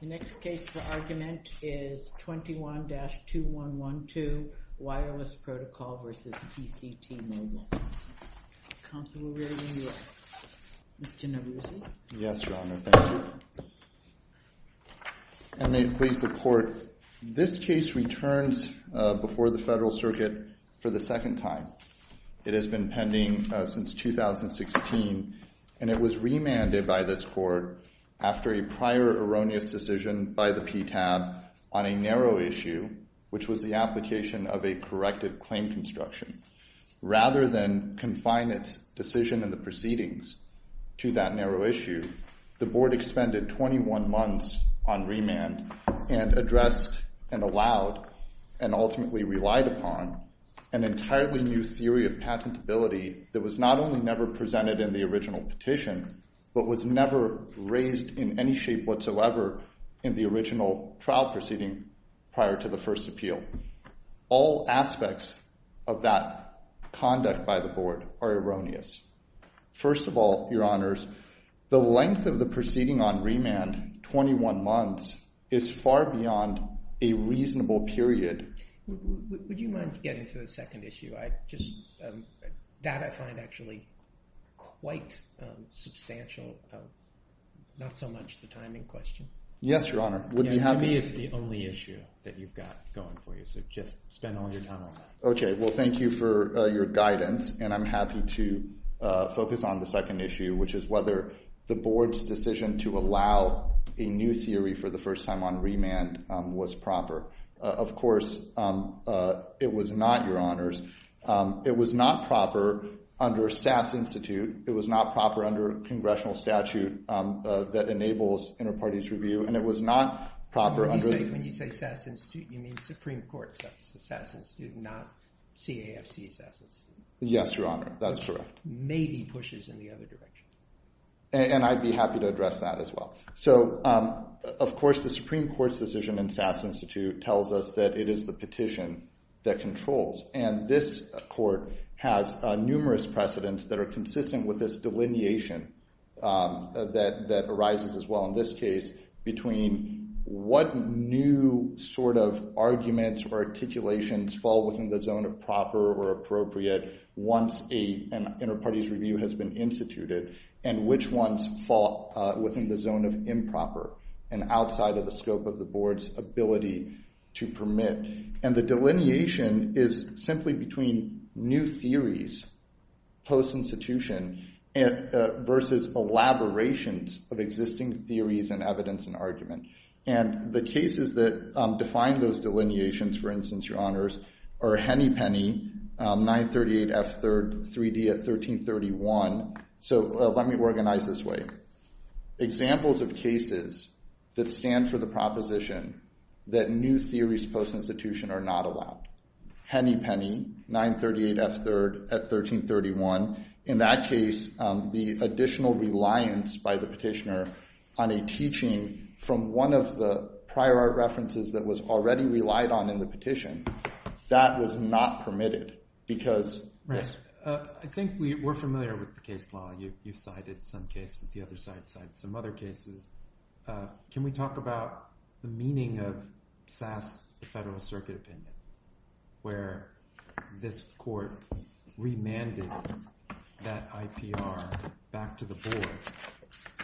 The next case for argument is 21-2112, Wireless Protocol v. TCT Mobile. Counsel will read it to you. Mr. Naruzi? Yes, Your Honor. Thank you. And may it please the Court, this case returns before the Federal Circuit for the second time. It has been pending since 2016, and it was remanded by this Court after a prior erroneous decision by the PTAB on a narrow issue, which was the application of a corrected claim construction. Rather than confine its decision in the proceedings to that narrow issue, the Board expended 21 months on remand and addressed and allowed and ultimately relied upon an entirely new theory of patentability that was not only never presented in the original petition, but was never raised in any shape whatsoever in the original trial proceeding prior to the first appeal. All aspects of that conduct by the Board are erroneous. First of all, Your Honors, the length of the proceeding on remand, 21 months, is far beyond a reasonable period. Would you mind getting to the second issue? That I find actually quite substantial, not so much the timing question. Yes, Your Honor. To me, it's the only issue that you've got going for you, so just spend all your time on that. Okay. Well, thank you for your guidance, and I'm happy to focus on the second issue, which is whether the Board's decision to allow a new theory for the first time on remand was proper. Of course, it was not, Your Honors. It was not proper under SAS Institute. It was not proper under congressional statute that enables inter-parties review, and it was not proper under— When you say SAS Institute, you mean Supreme Court's SAS Institute, not CAFC's SAS Institute. Yes, Your Honor. That's correct. Which maybe pushes in the other direction. And I'd be happy to address that as well. So, of course, the Supreme Court's decision in SAS Institute tells us that it is the petition that controls, and this court has numerous precedents that are consistent with this delineation that arises as well in this case, between what new sort of arguments or articulations fall within the zone of proper or appropriate once an inter-parties review has been instituted, and which ones fall within the zone of improper and outside of the scope of the Board's ability to permit. And the delineation is simply between new theories post-institution versus elaborations of existing theories and evidence and argument. And the cases that define those delineations, for instance, Your Honors, are Hennepenny, 938F3D at 1331. So let me organize this way. Examples of cases that stand for the proposition that new theories post-institution are not allowed. Hennepenny, 938F3D at 1331. In that case, the additional reliance by the petitioner on a teaching from one of the prior art references that was already relied on in the petition, that was not permitted. Right. I think we're familiar with the case law. You cited some cases. The other side cited some other cases. Can we talk about the meaning of Sass, the Federal Circuit Opinion, where this court remanded that IPR back to the Board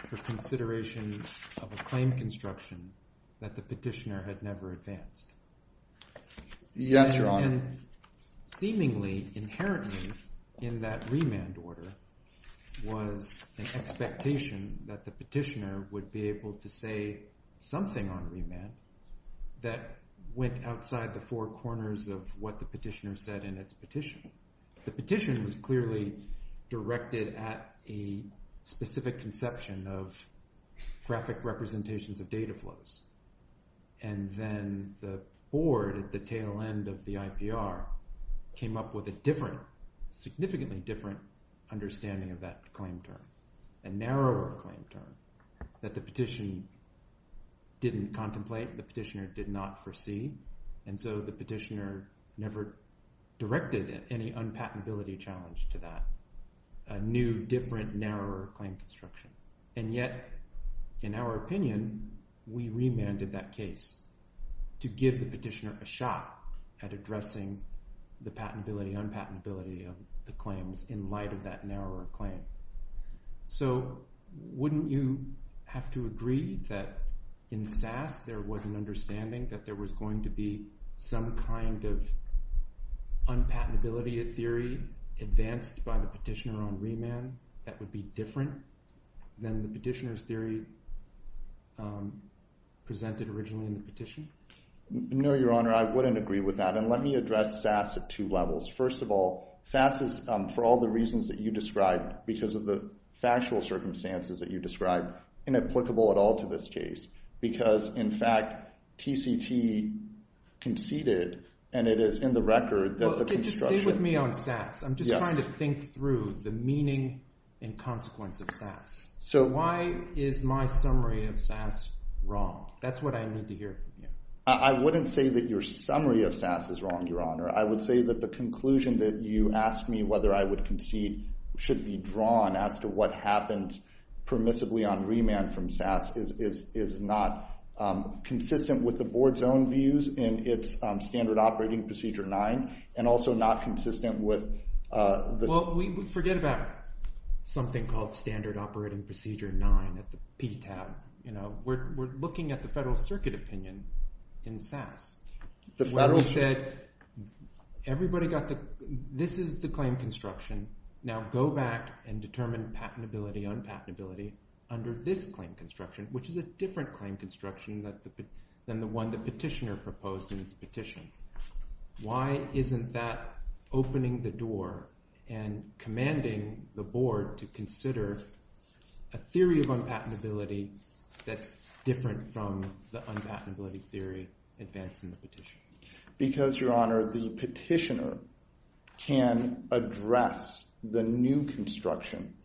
for consideration of a claim construction that the petitioner had never advanced? Yes, Your Honor. And seemingly, inherently, in that remand order was an expectation that the petitioner would be able to say something on remand that went outside the four corners of what the petitioner said in its petition. The petition was clearly directed at a specific conception of graphic representations of data flows. And then the Board at the tail end of the IPR came up with a different, significantly different understanding of that claim term, a narrower claim term that the petition didn't contemplate, the petitioner did not foresee. And so the petitioner never directed any unpatentability challenge to that, a new, different, narrower claim construction. And yet, in our opinion, we remanded that case to give the petitioner a shot at addressing the patentability, unpatentability of the claims in light of that narrower claim. So wouldn't you have to agree that in Sass there was an understanding that there was going to be some kind of unpatentability theory advanced by the petitioner on remand that would be different than the petitioner's theory presented originally in the petition? No, Your Honor, I wouldn't agree with that. And let me address Sass at two levels. First of all, Sass is, for all the reasons that you described, because of the factual circumstances that you described, inapplicable at all to this case. Because, in fact, TCT conceded, and it is in the record that the construction… Okay, just stay with me on Sass. I'm just trying to think through the meaning and consequence of Sass. Why is my summary of Sass wrong? That's what I need to hear from you. I wouldn't say that your summary of Sass is wrong, Your Honor. I would say that the conclusion that you asked me whether I would concede should be drawn as to what happens permissively on remand from Sass is not consistent with the board's own views in its Standard Operating Procedure 9 and also not consistent with the… Well, forget about something called Standard Operating Procedure 9 at the PTAB. We're looking at the Federal Circuit opinion in Sass. The Federal… The Federal said everybody got the – this is the claim construction. Now go back and determine patentability, unpatentability under this claim construction, which is a different claim construction than the one the petitioner proposed in its petition. Why isn't that opening the door and commanding the board to consider a theory of unpatentability that's different from the unpatentability theory advanced in the petition? Because, Your Honor, the petitioner can address the new construction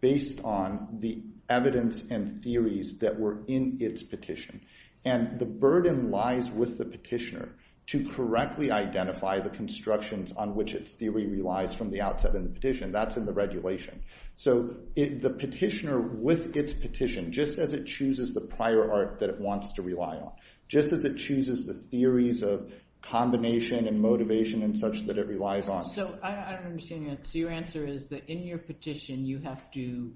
based on the evidence and theories that were in its petition. And the burden lies with the petitioner to correctly identify the constructions on which its theory relies from the outset in the petition. That's in the regulation. So the petitioner with its petition, just as it chooses the prior art that it wants to rely on, just as it chooses the theories of combination and motivation and such that it relies on… So your answer is that in your petition, you have to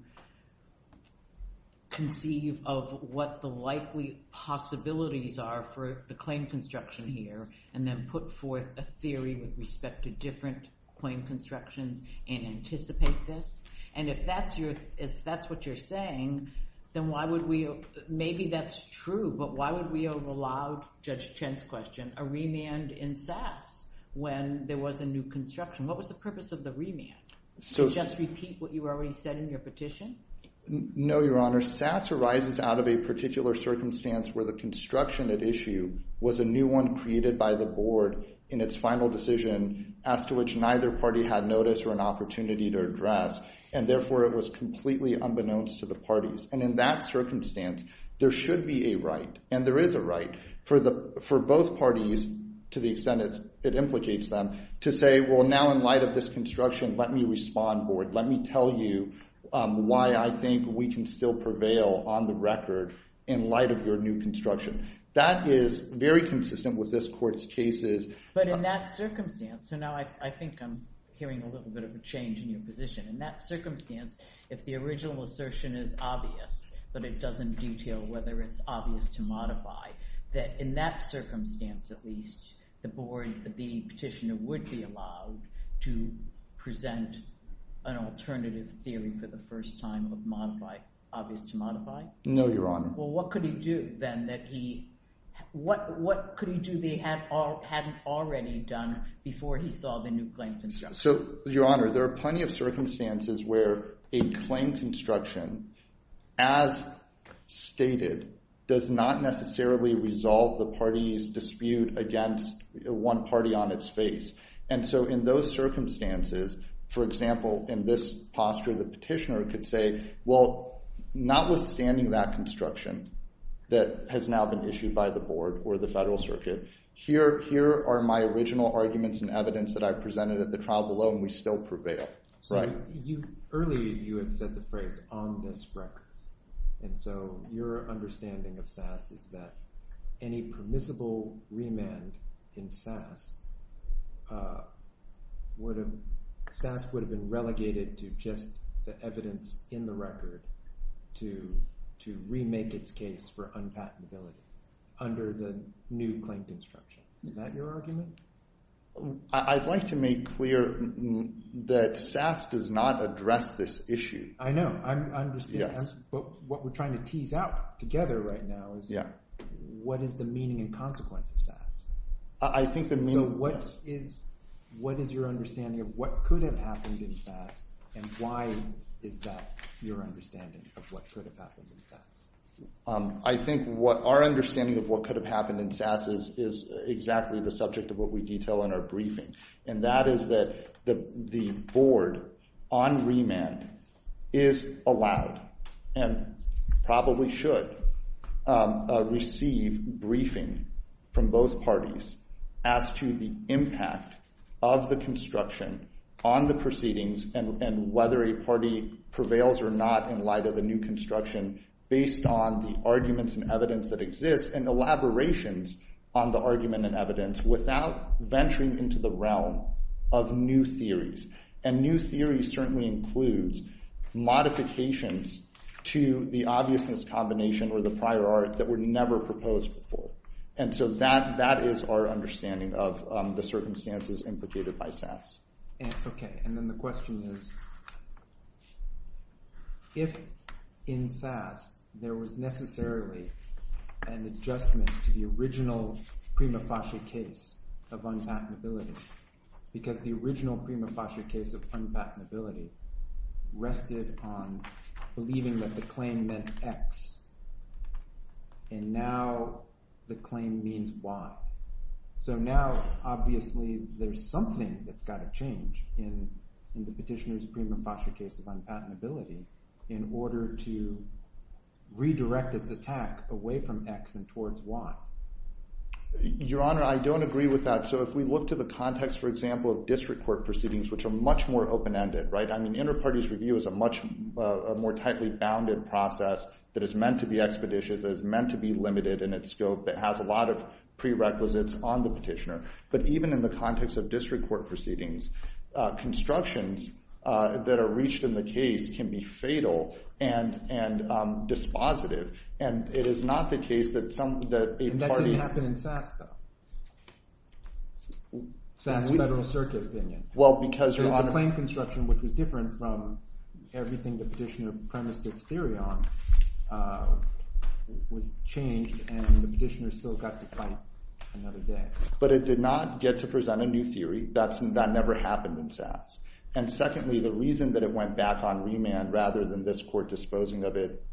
conceive of what the likely possibilities are for the claim construction here and then put forth a theory with respect to different claim constructions and anticipate this? And if that's your – if that's what you're saying, then why would we – maybe that's true, but why would we have allowed, Judge Chen's question, a remand in Sass when there was a new construction? What was the purpose of the remand? To just repeat what you already said in your petition? No, Your Honor. Sass arises out of a particular circumstance where the construction at issue was a new one created by the board in its final decision as to which neither party had notice or an opportunity to address, and therefore it was completely unbeknownst to the parties. And in that circumstance, there should be a right and there is a right for both parties to the extent it implicates them to say, well, now in light of this construction, let me respond, board. Let me tell you why I think we can still prevail on the record in light of your new construction. That is very consistent with this court's cases. But in that circumstance – so now I think I'm hearing a little bit of a change in your position. In that circumstance, if the original assertion is obvious but it doesn't detail whether it's obvious to modify, that in that circumstance at least the board – the petitioner would be allowed to present an alternative theory for the first time of modify – obvious to modify? No, Your Honor. Well, what could he do then that he – what could he do they hadn't already done before he saw the new claim construction? So, Your Honor, there are plenty of circumstances where a claim construction as stated does not necessarily resolve the party's dispute against one party on its face. And so in those circumstances, for example, in this posture, the petitioner could say, well, notwithstanding that construction that has now been issued by the board or the federal circuit, here are my original arguments and evidence that I presented at the trial below and we still prevail. Earlier you had said the phrase, on this record. And so your understanding of SAS is that any permissible remand in SAS would have – SAS would have been relegated to just the evidence in the record to remake its case for unpatentability under the new claim construction. Is that your argument? I'd like to make clear that SAS does not address this issue. I know. I understand. Yes. What we're trying to tease out together right now is what is the meaning and consequence of SAS. I think the meaning – yes. So what is – what is your understanding of what could have happened in SAS and why is that your understanding of what could have happened in SAS? I think what – our understanding of what could have happened in SAS is exactly the subject of what we detail in our briefing, and that is that the board, on remand, is allowed and probably should receive briefing from both parties as to the impact of the construction on the proceedings and whether a party prevails or not in light of a new construction based on the arguments and evidence that exist and elaborations on the argument and evidence without venturing into the realm of new theories. And new theories certainly includes modifications to the obviousness combination or the prior art that were never proposed before. And so that is our understanding of the circumstances implicated by SAS. Okay. And then the question is if in SAS there was necessarily an adjustment to the original prima facie case of unpatentability because the original prima facie case of unpatentability rested on believing that the claim meant X and now the claim means Y. So now obviously there's something that's got to change in the petitioner's prima facie case of unpatentability in order to redirect its attack away from X and towards Y. Your Honor, I don't agree with that. So if we look to the context, for example, of district court proceedings, which are much more open-ended, right? I mean, inter-parties review is a much more tightly bounded process that is meant to be expeditious, that is meant to be limited in its scope, that has a lot of prerequisites on the petitioner. But even in the context of district court proceedings, constructions that are reached in the case can be fatal and dispositive. And it is not the case that a party— SAS federal circuit opinion. Well, because— The claim construction, which was different from everything the petitioner premised its theory on, was changed and the petitioner still got to fight another day. But it did not get to present a new theory. That never happened in SAS. And secondly, the reason that it went back on remand rather than this court disposing of it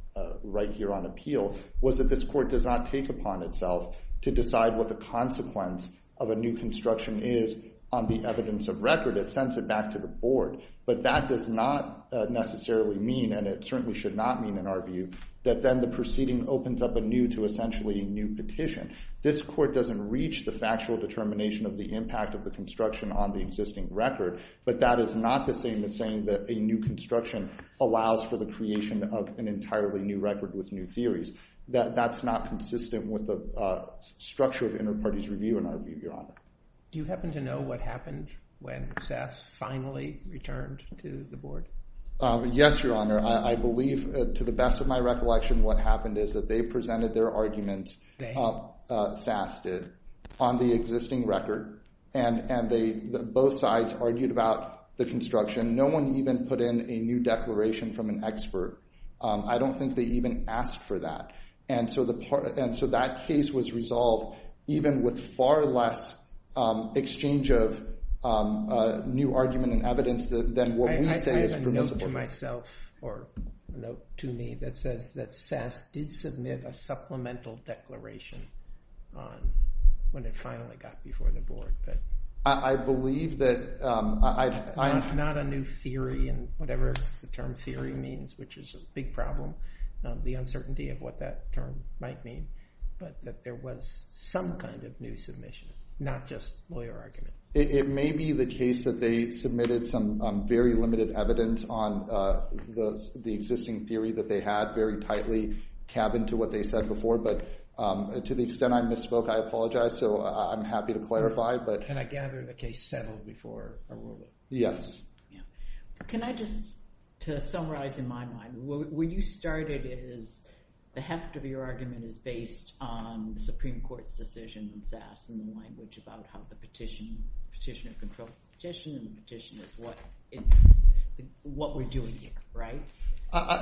right here on appeal was that this court does not take upon itself to decide what the consequence of a new construction is on the evidence of record. It sends it back to the board. But that does not necessarily mean, and it certainly should not mean in our view, that then the proceeding opens up anew to essentially a new petition. This court doesn't reach the factual determination of the impact of the construction on the existing record, but that is not the same as saying that a new construction allows for the creation of an entirely new record with new theories. That's not consistent with the structure of inter-parties review in our view, Your Honor. Do you happen to know what happened when SAS finally returned to the board? Yes, Your Honor. I believe, to the best of my recollection, what happened is that they presented their arguments. They? SAS did on the existing record. And both sides argued about the construction. No one even put in a new declaration from an expert. I don't think they even asked for that. And so that case was resolved even with far less exchange of new argument and evidence than what we say is permissible. I have a note to myself, or a note to me, that says that SAS did submit a supplemental declaration when it finally got before the board. I believe that... Not a new theory in whatever the term theory means, which is a big problem, the uncertainty of what that term might mean. But that there was some kind of new submission, not just lawyer argument. It may be the case that they submitted some very limited evidence on the existing theory that they had very tightly cabined to what they said before. But to the extent I misspoke, I apologize. So I'm happy to clarify. Can I gather the case settled before our ruling? Yes. Can I just, to summarize in my mind, where you started is the heft of your argument is based on the Supreme Court's decision in SAS, and the language about how the petitioner controls the petition, and the petition is what we're doing here, right?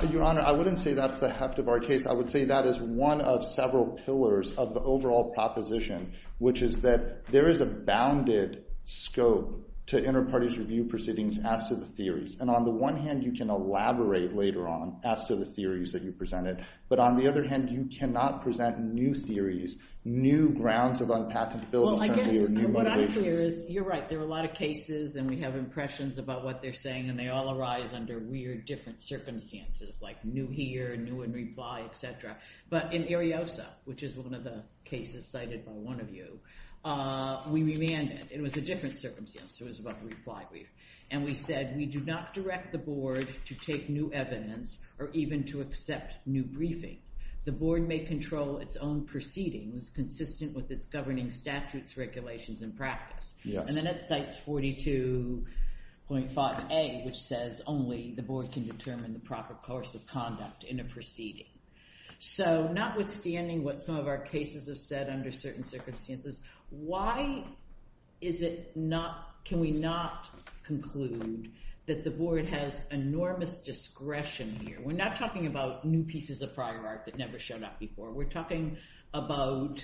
Your Honor, I wouldn't say that's the heft of our case. I would say that is one of several pillars of the overall proposition, which is that there is a bounded scope to inter-parties review proceedings as to the theories. And on the one hand, you can elaborate later on as to the theories that you presented. But on the other hand, you cannot present new theories, new grounds of unpathetability, certainly, or new motivations. Well, I guess what I'm clear is you're right. There are a lot of cases, and we have impressions about what they're saying. And they all arise under weird, different circumstances, like new here, new in reply, et cetera. But in Ariosa, which is one of the cases cited by one of you, we remanded. It was a different circumstance. It was about the reply brief. And we said, we do not direct the board to take new evidence or even to accept new briefing. The board may control its own proceedings consistent with its governing statutes, regulations, and practice. And then it cites 42.5A, which says only the board can determine the proper course of conduct in a proceeding. So notwithstanding what some of our cases have said under certain circumstances, why can we not conclude that the board has enormous discretion here? We're not talking about new pieces of prior art that never showed up before. We're talking about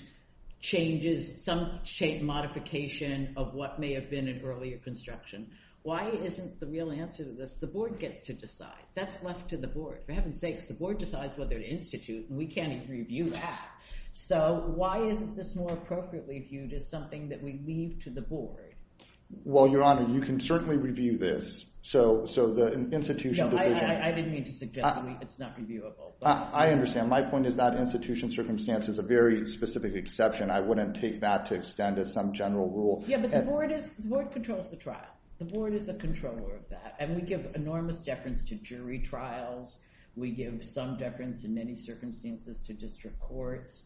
changes, some shape, modification of what may have been in earlier construction. Why isn't the real answer to this the board gets to decide? That's left to the board. For heaven's sakes, the board decides whether to institute, and we can't even review that. So why isn't this more appropriately viewed as something that we leave to the board? Well, Your Honor, you can certainly review this. So the institution decision— No, I didn't mean to suggest it's not reviewable. I understand. My point is that institution circumstance is a very specific exception. I wouldn't take that to extend as some general rule. Yeah, but the board controls the trial. The board is the controller of that, and we give enormous deference to jury trials. We give some deference in many circumstances to district courts.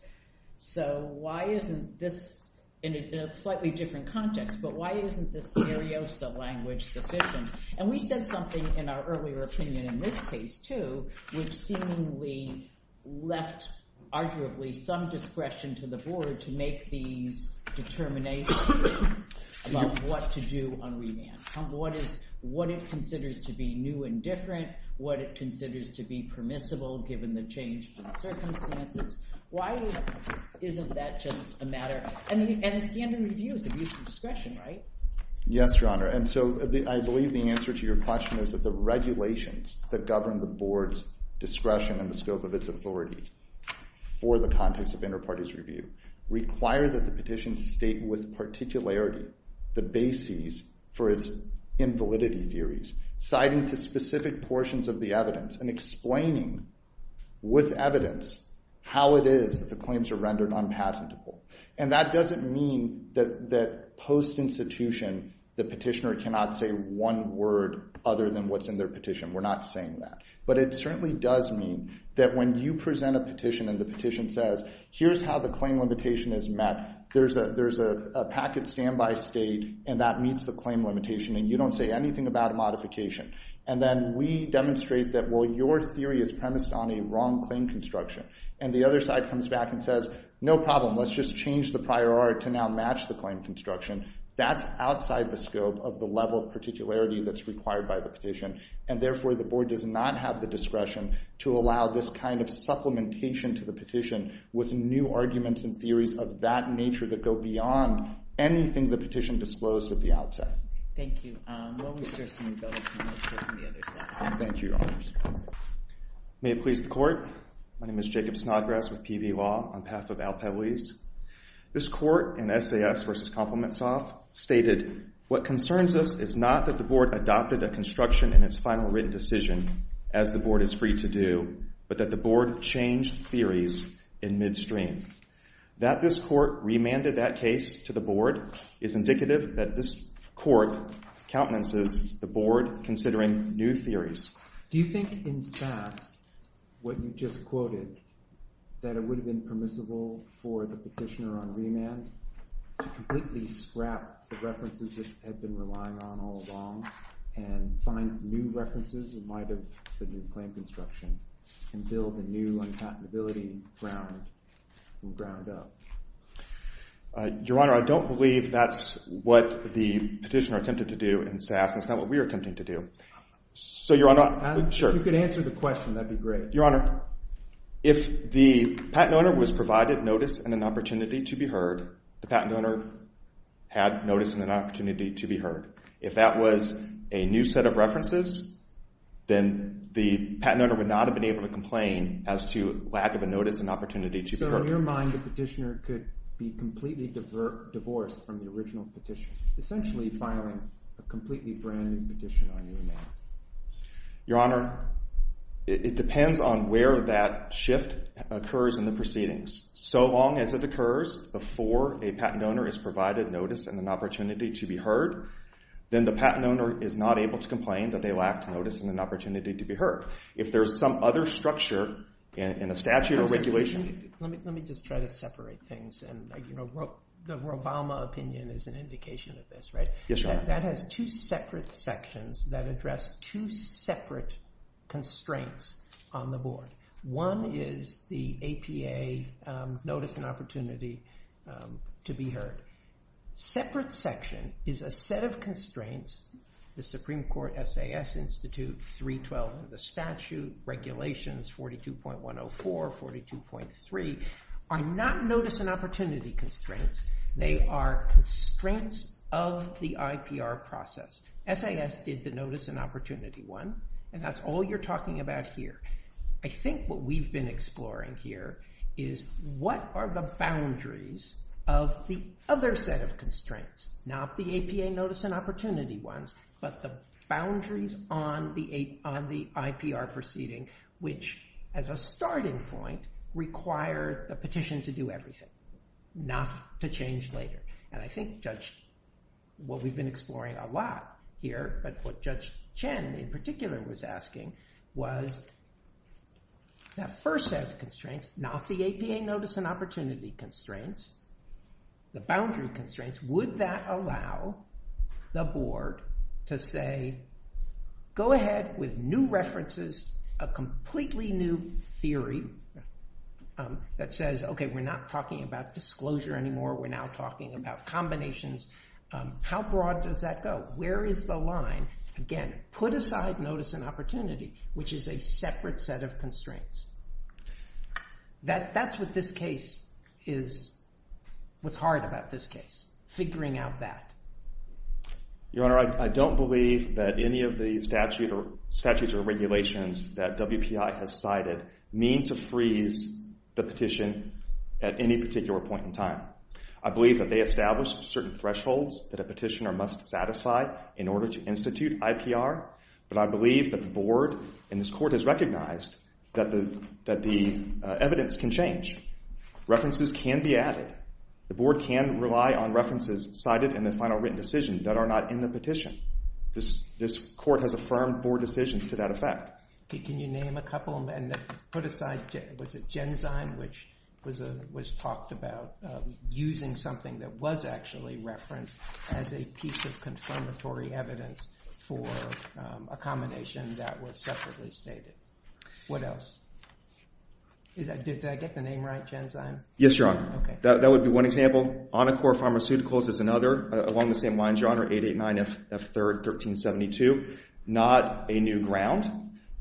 So why isn't this—in a slightly different context, but why isn't this Ariosa language sufficient? And we said something in our earlier opinion in this case, too, which seemingly left arguably some discretion to the board to make these determinations about what to do on remand. What it considers to be new and different, what it considers to be permissible given the changed circumstances. Why isn't that just a matter—and the standard review is abuse of discretion, right? Yes, Your Honor. And so I believe the answer to your question is that the regulations that govern the board's discretion and the scope of its authority for the context of interparties review require that the petition state with particularity the bases for its invalidity theories, citing to specific portions of the evidence and explaining with evidence how it is that the claims are rendered unpatentable. And that doesn't mean that post-institution the petitioner cannot say one word other than what's in their petition. We're not saying that. But it certainly does mean that when you present a petition and the petition says, here's how the claim limitation is met, there's a packet standby state and that meets the claim limitation and you don't say anything about a modification. And then we demonstrate that, well, your theory is premised on a wrong claim construction. And the other side comes back and says, no problem. Let's just change the prior art to now match the claim construction. That's outside the scope of the level of particularity that's required by the petition. And therefore, the board does not have the discretion to allow this kind of supplementation to the petition with new arguments and theories of that nature that go beyond anything the petition disclosed at the outset. Thank you. We'll reserve some of those for the other side. Thank you, Your Honors. May it please the Court. My name is Jacob Snodgrass with PV Law on behalf of Al Pebblese. This Court in SAS v. Compliments Off stated, what concerns us is not that the board adopted a construction in its final written decision, as the board is free to do, but that the board changed theories in midstream. That this Court remanded that case to the board is indicative that this Court countenances the board considering new theories. Do you think in SAS what you just quoted, that it would have been permissible for the petitioner on remand to completely scrap the references it had been relying on all along and find new references in light of the new claim construction and build a new unpatentability ground from ground up? Your Honor, I don't believe that's what the petitioner attempted to do in SAS. That's not what we're attempting to do. If you could answer the question, that would be great. Your Honor, if the patent owner was provided notice and an opportunity to be heard, the patent owner had notice and an opportunity to be heard. If that was a new set of references, then the patent owner would not have been able to complain as to lack of a notice and opportunity to be heard. So in your mind, the petitioner could be completely divorced from the original petitioner, a completely brand new petition on remand? Your Honor, it depends on where that shift occurs in the proceedings. So long as it occurs before a patent owner is provided notice and an opportunity to be heard, then the patent owner is not able to complain that they lacked notice and an opportunity to be heard. If there's some other structure in a statute or regulation... Let me just try to separate things. The Rovalma opinion is an indication of this, right? Yes, Your Honor. That has two separate sections that address two separate constraints on the board. One is the APA notice and opportunity to be heard. Separate section is a set of constraints, the Supreme Court, SAS Institute, 312 of the statute, regulations 42.104, 42.3, are not notice and opportunity constraints. They are constraints of the IPR process. SAS did the notice and opportunity one, and that's all you're talking about here. I think what we've been exploring here is what are the boundaries of the other set of constraints, not the APA notice and opportunity ones, but the boundaries on the IPR proceeding, which as a starting point require the petition to do everything, not to change later. And I think, Judge, what we've been exploring a lot here, but what Judge Chen in particular was asking was that first set of constraints, not the APA notice and opportunity constraints, the boundary constraints, would that allow the board to say, go ahead with new references, a completely new theory that says, okay, we're not talking about disclosure anymore. We're now talking about combinations. How broad does that go? Where is the line? Again, put aside notice and opportunity, which is a separate set of constraints. That's what this case is, what's hard about this case, figuring out that. Your Honor, I don't believe that any of the statutes or regulations that WPI has cited mean to freeze the petition at any particular point in time. I believe that they establish certain thresholds that a petitioner must satisfy in order to institute IPR, but I believe that the board and this Court has recognized that the evidence can change. References can be added. The board can rely on references cited in the final written decision that are not in the petition. This Court has affirmed board decisions to that effect. Can you name a couple? Put aside, was it Genzyme, which was talked about, using something that was actually referenced as a piece of confirmatory evidence for a combination that was separately stated. What else? Did I get the name right, Genzyme? Yes, Your Honor. That would be one example. Anacor Pharmaceuticals is another, along the same lines, Your Honor, 889 F3rd 1372. Not a new ground,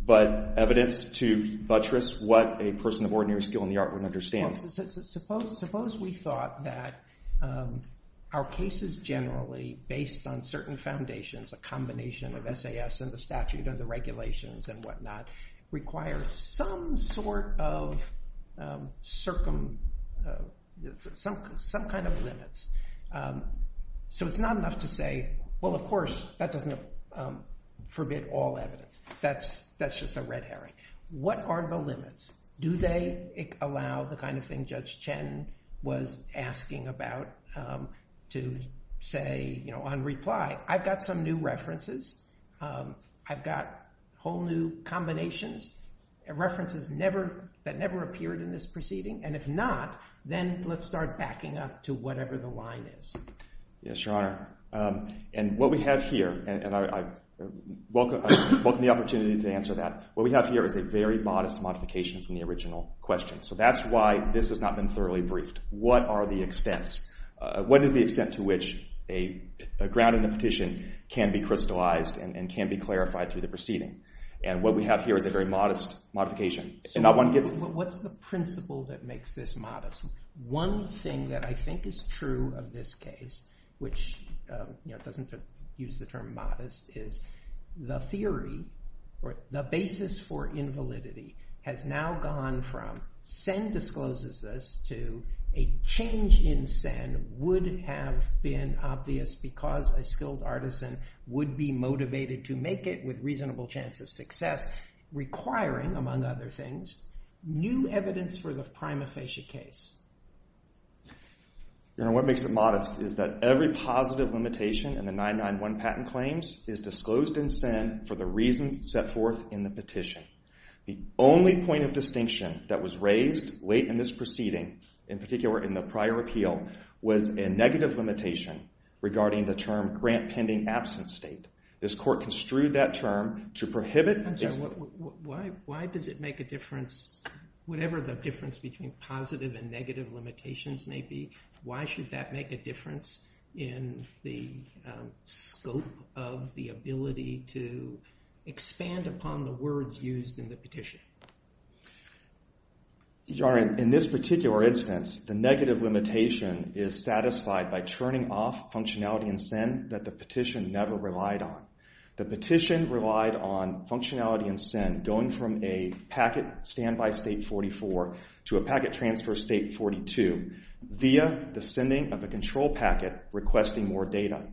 but evidence to buttress what a person of ordinary skill in the art would understand. Suppose we thought that our cases generally, based on certain foundations, a combination of SAS and the statute and the regulations and whatnot, require some sort of circum... some kind of limits. So it's not enough to say, well, of course, that doesn't forbid all evidence. That's just a red herring. What are the limits? Do they allow the kind of thing Judge Chen was asking about to say, you know, on reply, I've got some new references, I've got whole new combinations, references that never appeared in this proceeding, and if not, then let's start backing up to whatever the line is. Yes, Your Honor. And what we have here, and I welcome the opportunity to answer that, what we have here is a very modest modification from the original question. So that's why this has not been thoroughly briefed. What are the extents? What is the extent to which a ground and a petition can be crystallized and can be clarified through the proceeding? And what we have here is a very modest modification. So what's the principle that makes this modest? One thing that I think is true of this case, which, you know, doesn't use the term modest, is the theory or the basis for invalidity has now gone from Sen discloses this to a change in Sen would have been obvious because a skilled artisan would be motivated to make it with reasonable chance of success, requiring, among other things, new evidence for the prima facie case. Your Honor, what makes it modest is that every positive limitation in the 991 patent claims is disclosed in Sen for the reasons set forth in the petition. The only point of distinction that was raised late in this proceeding, in particular in the prior appeal, was a negative limitation regarding the term grant-pending absence state. This court construed that term to prohibit... Why does it make a difference, whatever the difference between positive and negative limitations may be, why should that make a difference in the scope of the ability to expand upon the words used in the petition? Your Honor, in this particular instance, the negative limitation is satisfied by turning off functionality in Sen that the petition never relied on. The petition relied on functionality in Sen going from a packet standby state 44 to a packet transfer state 42 via the sending of a control packet requesting more data.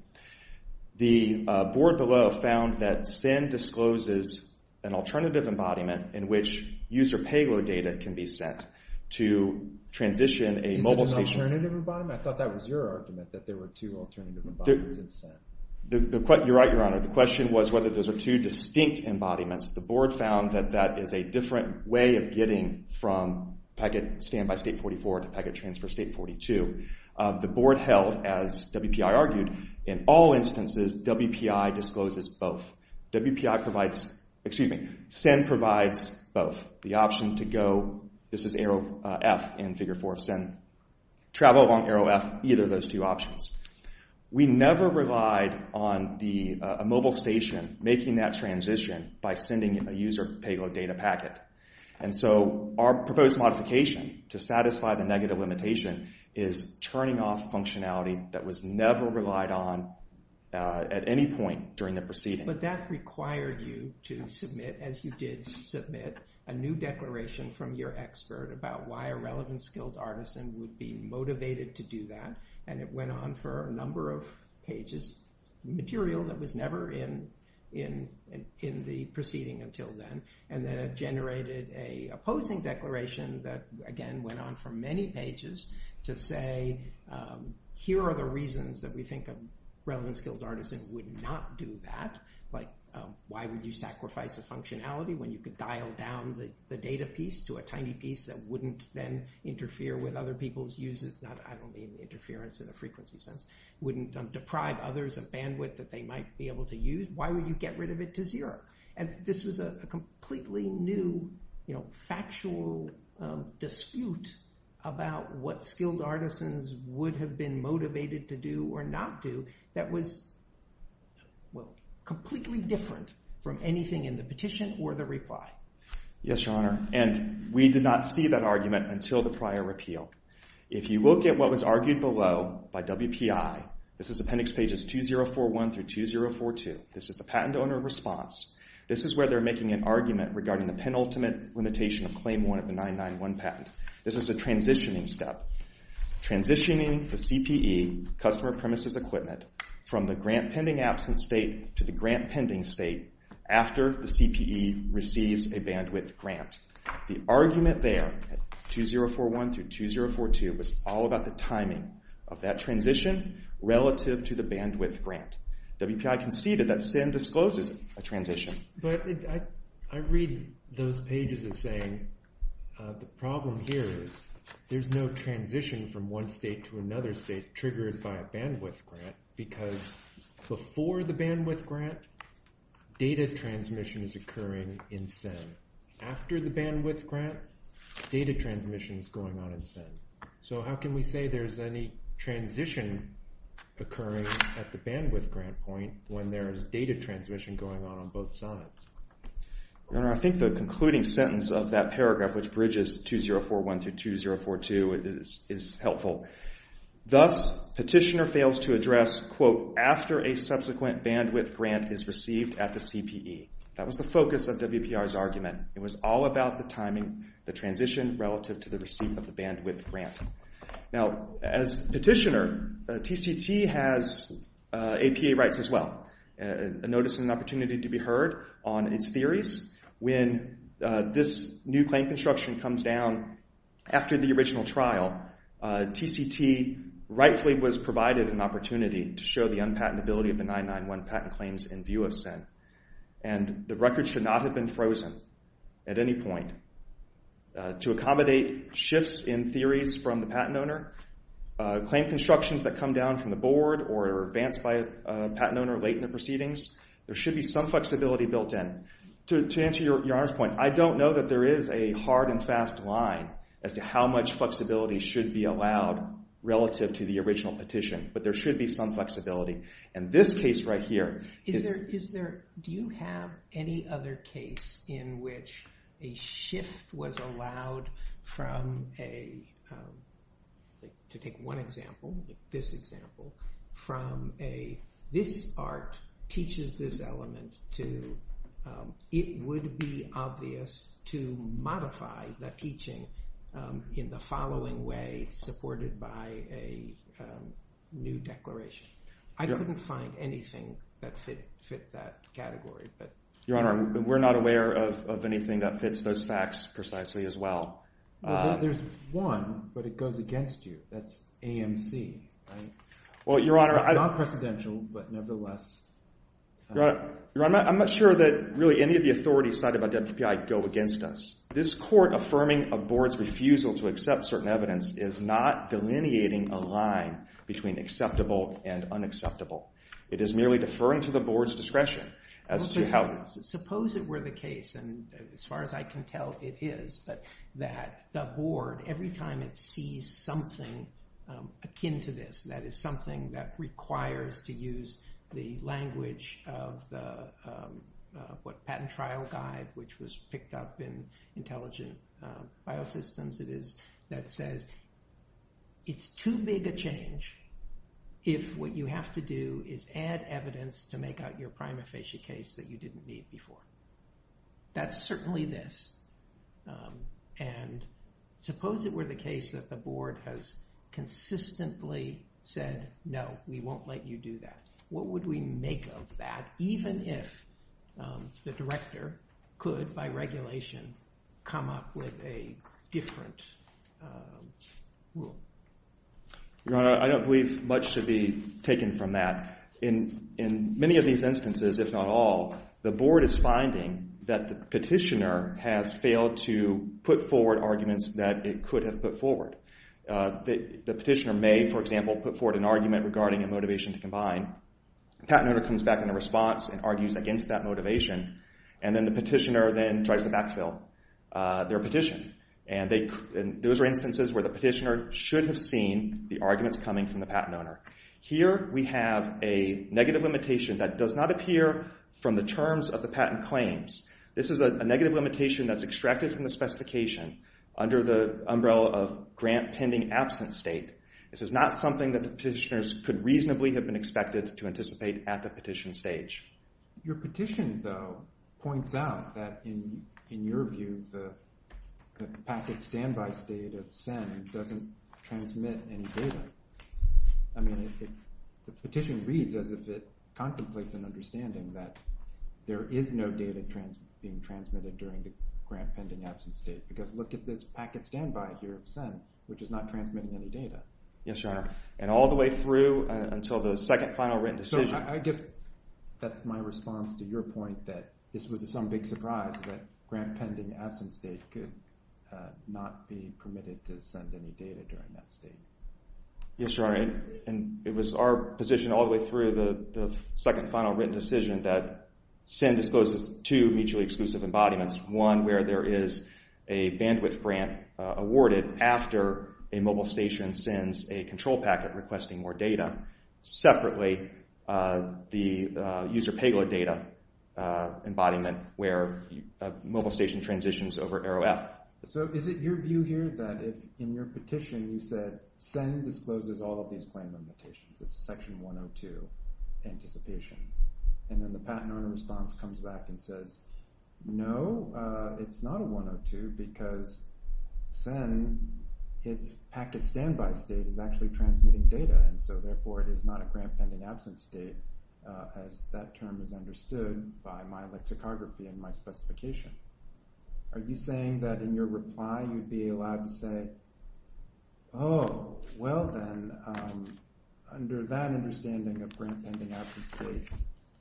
The board below found that Sen discloses an alternative embodiment in which user payload data can be sent to transition a mobile station... Is that an alternative embodiment? I thought that was your argument, that there were two alternative embodiments in Sen. You're right, Your Honor. The question was whether those are two distinct embodiments. The board found that that is a different way of getting from packet standby state 44 to packet transfer state 42. The board held, as WPI argued, in all instances, WPI discloses both. WPI provides... Excuse me. Sen provides both. The option to go... This is arrow F in Figure 4 of Sen. Travel along arrow F, either of those two options. We never relied on a mobile station making that transition by sending a user payload data packet. And so our proposed modification to satisfy the negative limitation is turning off functionality that was never relied on at any point during the proceeding. But that required you to submit, as you did submit, a new declaration from your expert about why a relevant skilled artisan would be motivated to do that. And it went on for a number of pages. Material that was never in the proceeding until then. And then it generated a opposing declaration that, again, went on for many pages to say, here are the reasons that we think a relevant skilled artisan would not do that. Like, why would you sacrifice a functionality when you could dial down the data piece to a tiny piece that wouldn't then interfere with other people's uses? I don't mean interference in a frequency sense. Wouldn't deprive others of bandwidth that they might be able to use. Why would you get rid of it to zero? And this was a completely new factual dispute about what skilled artisans would have been motivated to do or not do that was completely different from anything in the petition or the reply. Yes, Your Honor. And we did not see that argument until the prior repeal. If you look at what was argued below by WPI, this is appendix pages 2041 through 2042. This is the patent owner response. This is where they're making an argument regarding the penultimate limitation of claim one of the 991 patent. This is a transitioning step. Transitioning the CPE, customer premises equipment, from the grant-pending absent state to the grant-pending state after the CPE receives a bandwidth grant. The argument there, 2041 through 2042, was all about the timing of that transition relative to the bandwidth grant. WPI conceded that SIN discloses a transition. But I read those pages as saying the problem here is there's no transition from one state to another state triggered by a bandwidth grant because before the bandwidth grant, data transmission is occurring in SIN. After the bandwidth grant, data transmission is going on in SIN. So how can we say there's any transition occurring at the bandwidth grant point when there's data transmission going on on both sides? Your Honor, I think the concluding sentence of that paragraph, which bridges 2041 through 2042, is helpful. Thus, petitioner fails to address, quote, after a subsequent bandwidth grant is received at the CPE. That was the focus of WPR's argument. It was all about the timing, the transition, relative to the receipt of the bandwidth grant. Now, as petitioner, TCT has APA rights as well. A notice is an opportunity to be heard on its theories. When this new claim construction comes down after the original trial, TCT rightfully was provided an opportunity to show the unpatentability of the 991 patent claims in view of SIN. And the record should not have been frozen at any point. To accommodate shifts in theories from the patent owner, claim constructions that come down from the board or are advanced by a patent owner late in the proceedings, there should be some flexibility built in. To answer Your Honor's point, I don't know that there is a hard and fast line as to how much flexibility should be allowed relative to the original petition, but there should be some flexibility. And this case right here... Is there... Do you have any other case in which a shift was allowed from a... To take one example, this example, from a this art teaches this element to it would be obvious to modify the teaching in the following way supported by a new declaration. I couldn't find anything that fit that category, but... Your Honor, we're not aware of anything that fits those facts precisely as well. There's one, but it goes against you. That's AMC, right? Well, Your Honor... Not precedential, but nevertheless... Your Honor, I'm not sure that really any of the authorities cited by WPI go against us. to accept certain evidence is not delineating a line between acceptable and unacceptable. It is merely deferring to the board's discretion as to how... Suppose it were the case, and as far as I can tell, it is, that the board, every time it sees something akin to this, that is something that requires to use the language of the patent trial guide, which was picked up in Intelligent Biosystems, that says, it's too big a change if what you have to do is add evidence to make out your prima facie case that you didn't need before. That's certainly this. And suppose it were the case that the board has consistently said, no, we won't let you do that. What would we make of that, even if the director could, by regulation, come up with a different rule? Your Honor, I don't believe much should be taken from that. In many of these instances, if not all, the board is finding that the petitioner has failed to put forward arguments that it could have put forward. The petitioner may, for example, put forward an argument regarding a motivation to combine. The patent owner comes back in a response and argues against that motivation, and then the petitioner then tries to backfill their petition. And those are instances where the petitioner should have seen the arguments coming from the patent owner. Here we have a negative limitation that does not appear from the terms of the patent claims. This is a negative limitation that's extracted from the specification under the umbrella of grant-pending absent state. This is not something that the petitioners could reasonably have been expected to anticipate at the petition stage. Your petition, though, points out that, in your view, the packet standby state of SIN doesn't transmit any data. I mean, the petition reads as if it contemplates an understanding that there is no data being transmitted during the grant-pending absent state, because look at this packet standby here of SIN, which is not transmitting any data. Yes, Your Honor, and all the way through until the second final written decision. I guess that's my response to your point that this was some big surprise that grant-pending absent state could not be permitted to send any data during that state. Yes, Your Honor, and it was our position all the way through the second final written decision that SIN discloses two mutually exclusive embodiments, one where there is a bandwidth grant awarded after a mobile station sends a control packet requesting more data, separately the user payload data embodiment where a mobile station transitions over arrow F. So is it your view here that if, in your petition, you said SIN discloses all of these claim limitations, it's a Section 102 anticipation, and then the patent owner response comes back and says, no, it's not a 102 because SIN, its packet standby state is actually transmitting data, and so therefore it is not a grant-pending absent state, as that term is understood by my lexicography and my specification. Are you saying that in your reply you'd be allowed to say, oh, well then, under that understanding of grant-pending absent state,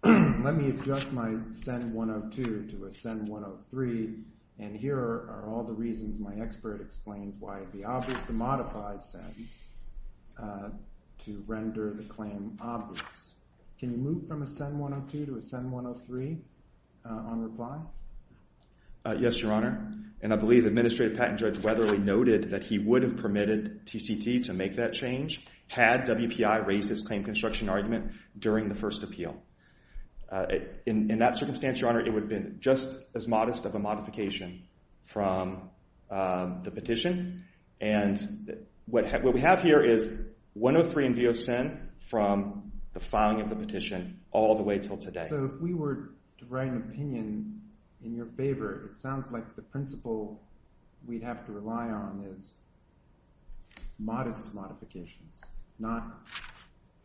let me adjust my SIN 102 to a SIN 103, and here are all the reasons my expert explains why it would be obvious to modify SIN to render the claim obvious. Can you move from a SIN 102 to a SIN 103 on reply? Yes, Your Honor. And I believe Administrative Patent Judge Weatherly noted that he would have permitted TCT to make that change had WPI raised its claim construction argument during the first appeal. In that circumstance, Your Honor, it would have been just as modest of a modification from the petition, and what we have here is 103 in view of SIN from the filing of the petition all the way till today. So if we were to write an opinion in your favor, it sounds like the principle we'd have to rely on is modest modifications, not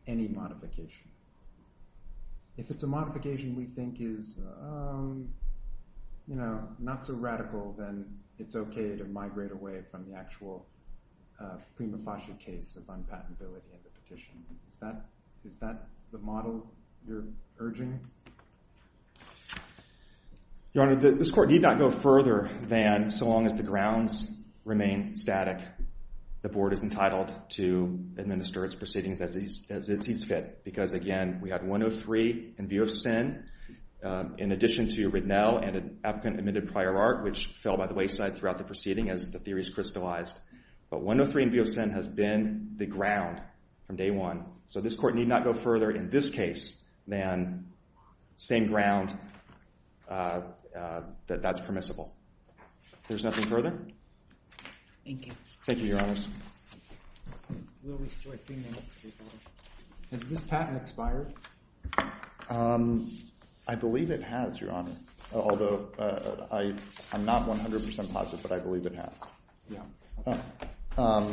any modification. If it's a modification we think is, you know, not so radical, then it's okay to migrate away from the actual prima facie case of unpatentability of the petition. Is that the model you're urging? Your Honor, this Court need not go further than so long as the grounds remain static, the Board is entitled to administer its proceedings as it sees fit, because, again, we had 103 in view of SIN in addition to Ridnell and an applicant-admitted prior art, which fell by the wayside throughout the proceeding as the theories crystallized. But 103 in view of SIN has been the ground from day one. So this Court need not go further in this case than same ground that that's permissible. If there's nothing further? Thank you. Thank you, Your Honors. We'll restore three minutes before. Has this patent expired? I believe it has, Your Honor, although I'm not 100% positive, but I believe it has. Yeah.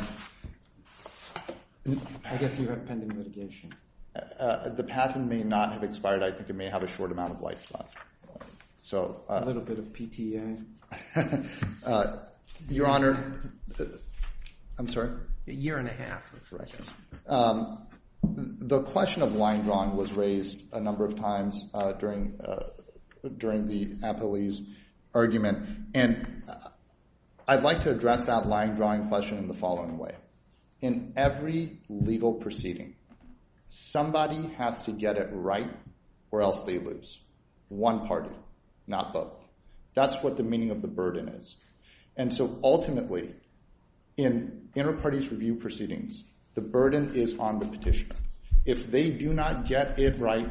I guess you have pending litigation. The patent may not have expired. I think it may have a short amount of life left. A little bit of PTA. Your Honor, I'm sorry? A year and a half. The question of line drawing was raised a number of times during the Appellee's argument, and I'd like to address that line drawing question in the following way. In every legal proceeding, somebody has to get it right or else they lose. One party, not both. That's what the meaning of the burden is. Ultimately, in inter-parties review proceedings, the burden is on the petitioner. If they do not get it right,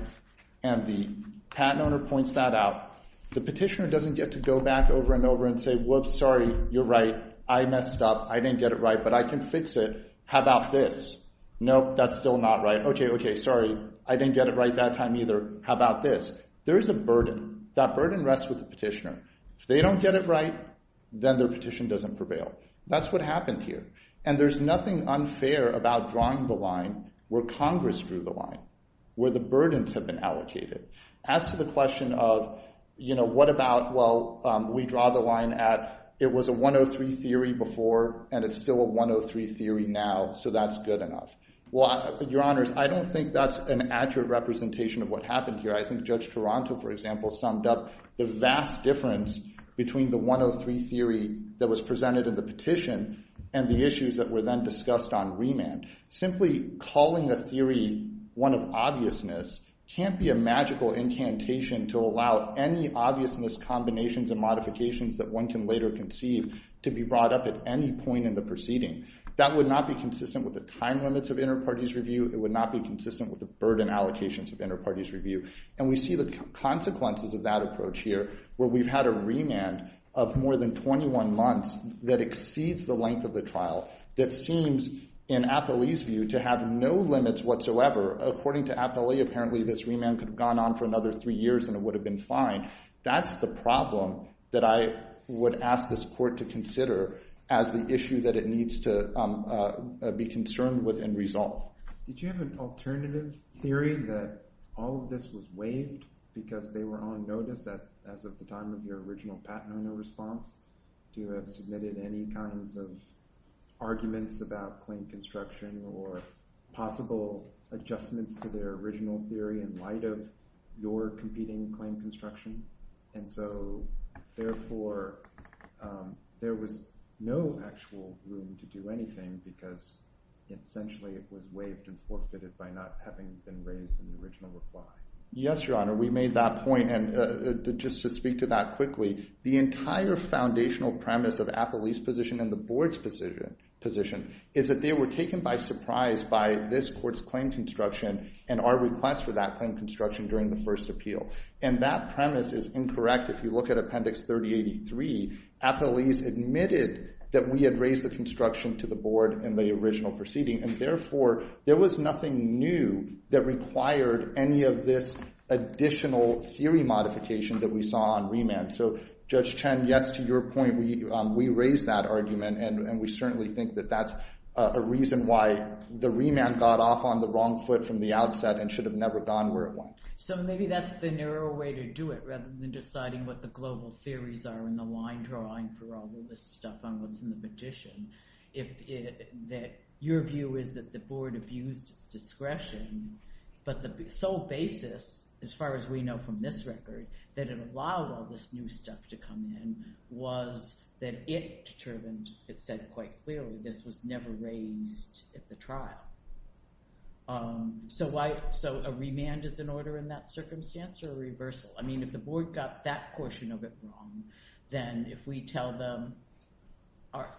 and the patent owner points that out, the petitioner doesn't get to go back over and over and say, whoops, sorry, you're right. I messed up. I didn't get it right, but I can fix it. How about this? Nope, that's still not right. Okay, okay, sorry. I didn't get it right that time either. How about this? There is a burden. That burden rests with the petitioner. If they don't get it right, then their petition doesn't prevail. That's what happened here. And there's nothing unfair about drawing the line where Congress drew the line, where the burdens have been allocated. As to the question of, you know, what about, well, we draw the line at, it was a 103 theory before, and it's still a 103 theory now, so that's good enough. Well, Your Honors, I don't think that's an accurate representation of what happened here. I think Judge Toronto, for example, summed up the vast difference between the 103 theory that was presented in the petition and the issues that were then discussed on remand. Simply calling a theory one of obviousness can't be a magical incantation to allow any obviousness combinations and modifications that one can later conceive to be brought up at any point in the proceeding. That would not be consistent with the time limits of interparties review. It would not be consistent with the burden allocations of interparties review. And we see the consequences of that approach here, where we've had a remand of more than 21 months that exceeds the length of the trial, that seems, in Apolli's view, to have no limits whatsoever. According to Apolli, apparently this remand could have gone on for another three years, and it would have been fine. That's the problem that I would ask this Court to consider as the issue that it needs to be concerned with and resolve. Did you have an alternative theory that all of this was waived because they were on notice as of the time of your original Pat Nono response? Do you have submitted any kinds of arguments about claim construction or possible adjustments to their original theory in light of your competing claim construction? And so, therefore, there was no actual room to do anything because essentially it was waived and forfeited by not having been raised in the original reply. Yes, Your Honor, we made that point. And just to speak to that quickly, the entire foundational premise of Apolli's position and the Board's position is that they were taken by surprise by this Court's claim construction and our request for that claim construction during the first appeal. And that premise is incorrect. If you look at Appendix 3083, Apolli's admitted that we had raised the construction to the Board in the original proceeding, and, therefore, there was nothing new that required any of this additional theory modification that we saw on remand. So, Judge Chen, yes, to your point, we raised that argument, and we certainly think that that's a reason why the remand got off on the wrong foot from the outset and should have never gone where it went. So maybe that's the narrow way to do it rather than deciding what the global theories are and the line drawing for all of this stuff on what's in the petition. Your view is that the Board abused its discretion, but the sole basis, as far as we know from this record, that it allowed all this new stuff to come in was that it determined, it said quite clearly, this was never raised at the trial. So a remand is an order in that circumstance or a reversal? I mean, if the Board got that portion of it wrong, then if we tell them,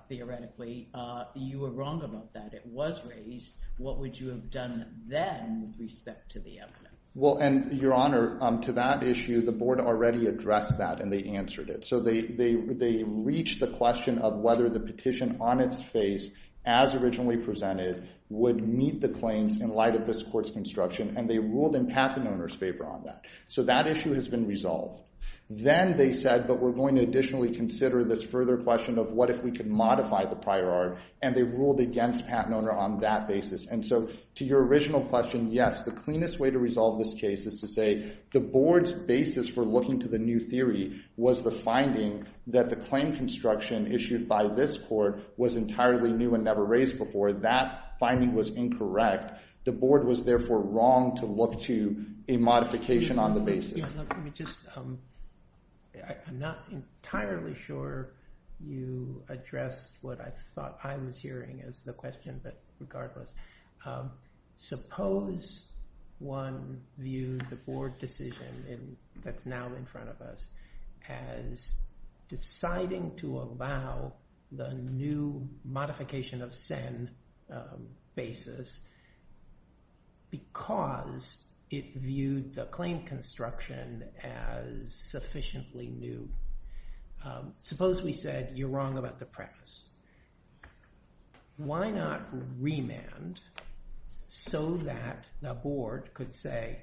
theoretically, you were wrong about that, it was raised, what would you have done then with respect to the evidence? Well, and, Your Honor, to that issue, the Board already addressed that, and they answered it. So they reached the question of whether the petition on its face, as originally presented, would meet the claims in light of this Court's construction, and they ruled in Patton Owner's favor on that. So that issue has been resolved. Then they said, but we're going to additionally consider this further question of what if we could modify the prior art, and they ruled against Patton Owner on that basis. And so to your original question, yes, the cleanest way to resolve this case is to say the Board's basis for looking to the new theory was the finding that the claim construction issued by this Court was entirely new and never raised before. That finding was incorrect. The Board was therefore wrong to look to a modification on the basis. Let me just... I'm not entirely sure you addressed what I thought I was hearing as the question, but regardless. Suppose one viewed the Board decision that's now in front of us as deciding to allow the new modification of Senn basis because it viewed the claim construction as sufficiently new. Suppose we said you're wrong about the premise. Why not remand so that the Board could say,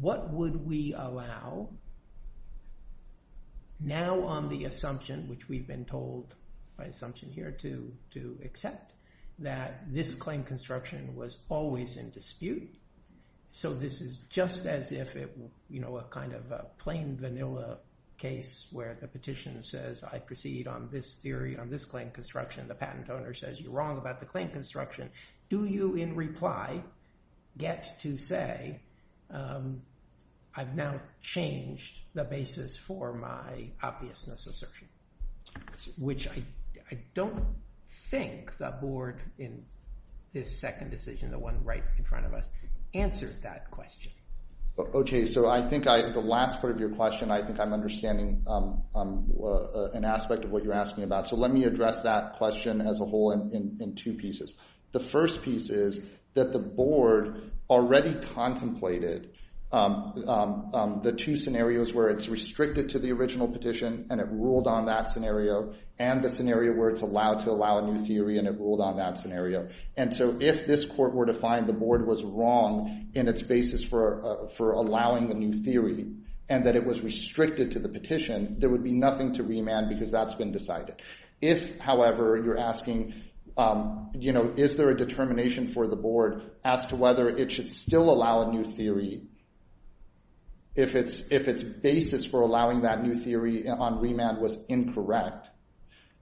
what would we allow now on the assumption, which we've been told by assumption here to accept, that this claim construction was always in dispute? So this is just as if it were a kind of plain vanilla case where the petitioner says, I proceed on this theory on this claim construction. The patent owner says, you're wrong about the claim construction. Do you in reply get to say, I've now changed the basis for my obviousness assertion, which I don't think the Board in this second decision, the one right in front of us, answered that question. Okay. So I think the last part of your question, I think I'm understanding an aspect of what you're asking about. So let me address that question as a whole in two pieces. The first piece is that the Board already contemplated the two scenarios where it's restricted to the original petition and it ruled on that scenario and the scenario where it's allowed to allow a new theory and it ruled on that scenario. And so if this court were to find the Board was wrong in its basis for allowing the new theory and that it was restricted to the petition, there would be nothing to remand because that's been decided. If, however, you're asking, is there a determination for the Board as to whether it should still allow a new theory if its basis for allowing that new theory on remand was incorrect,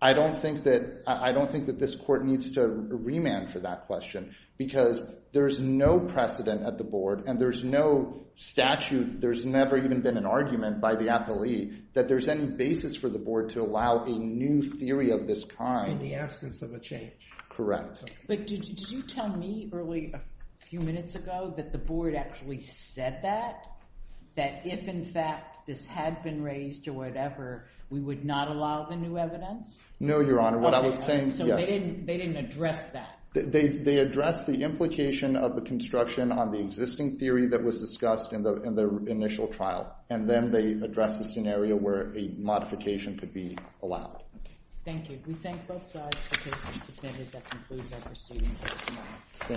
I don't think that this court needs to remand for that question because there's no precedent at the Board and there's no statute, there's never even been an argument by the appellee that there's any basis for the Board to allow a new theory of this kind. In the absence of a change. Correct. But did you tell me early a few minutes ago that the Board actually said that? That if, in fact, this had been raised or whatever, we would not allow the new evidence? No, Your Honor. What I was saying, yes. So they didn't address that? They addressed the implication of the construction on the existing theory that was discussed in the initial trial and then they addressed the scenario where a modification could be allowed. Thank you. We thank both sides for taking the subpoena that concludes our proceedings. Thank you.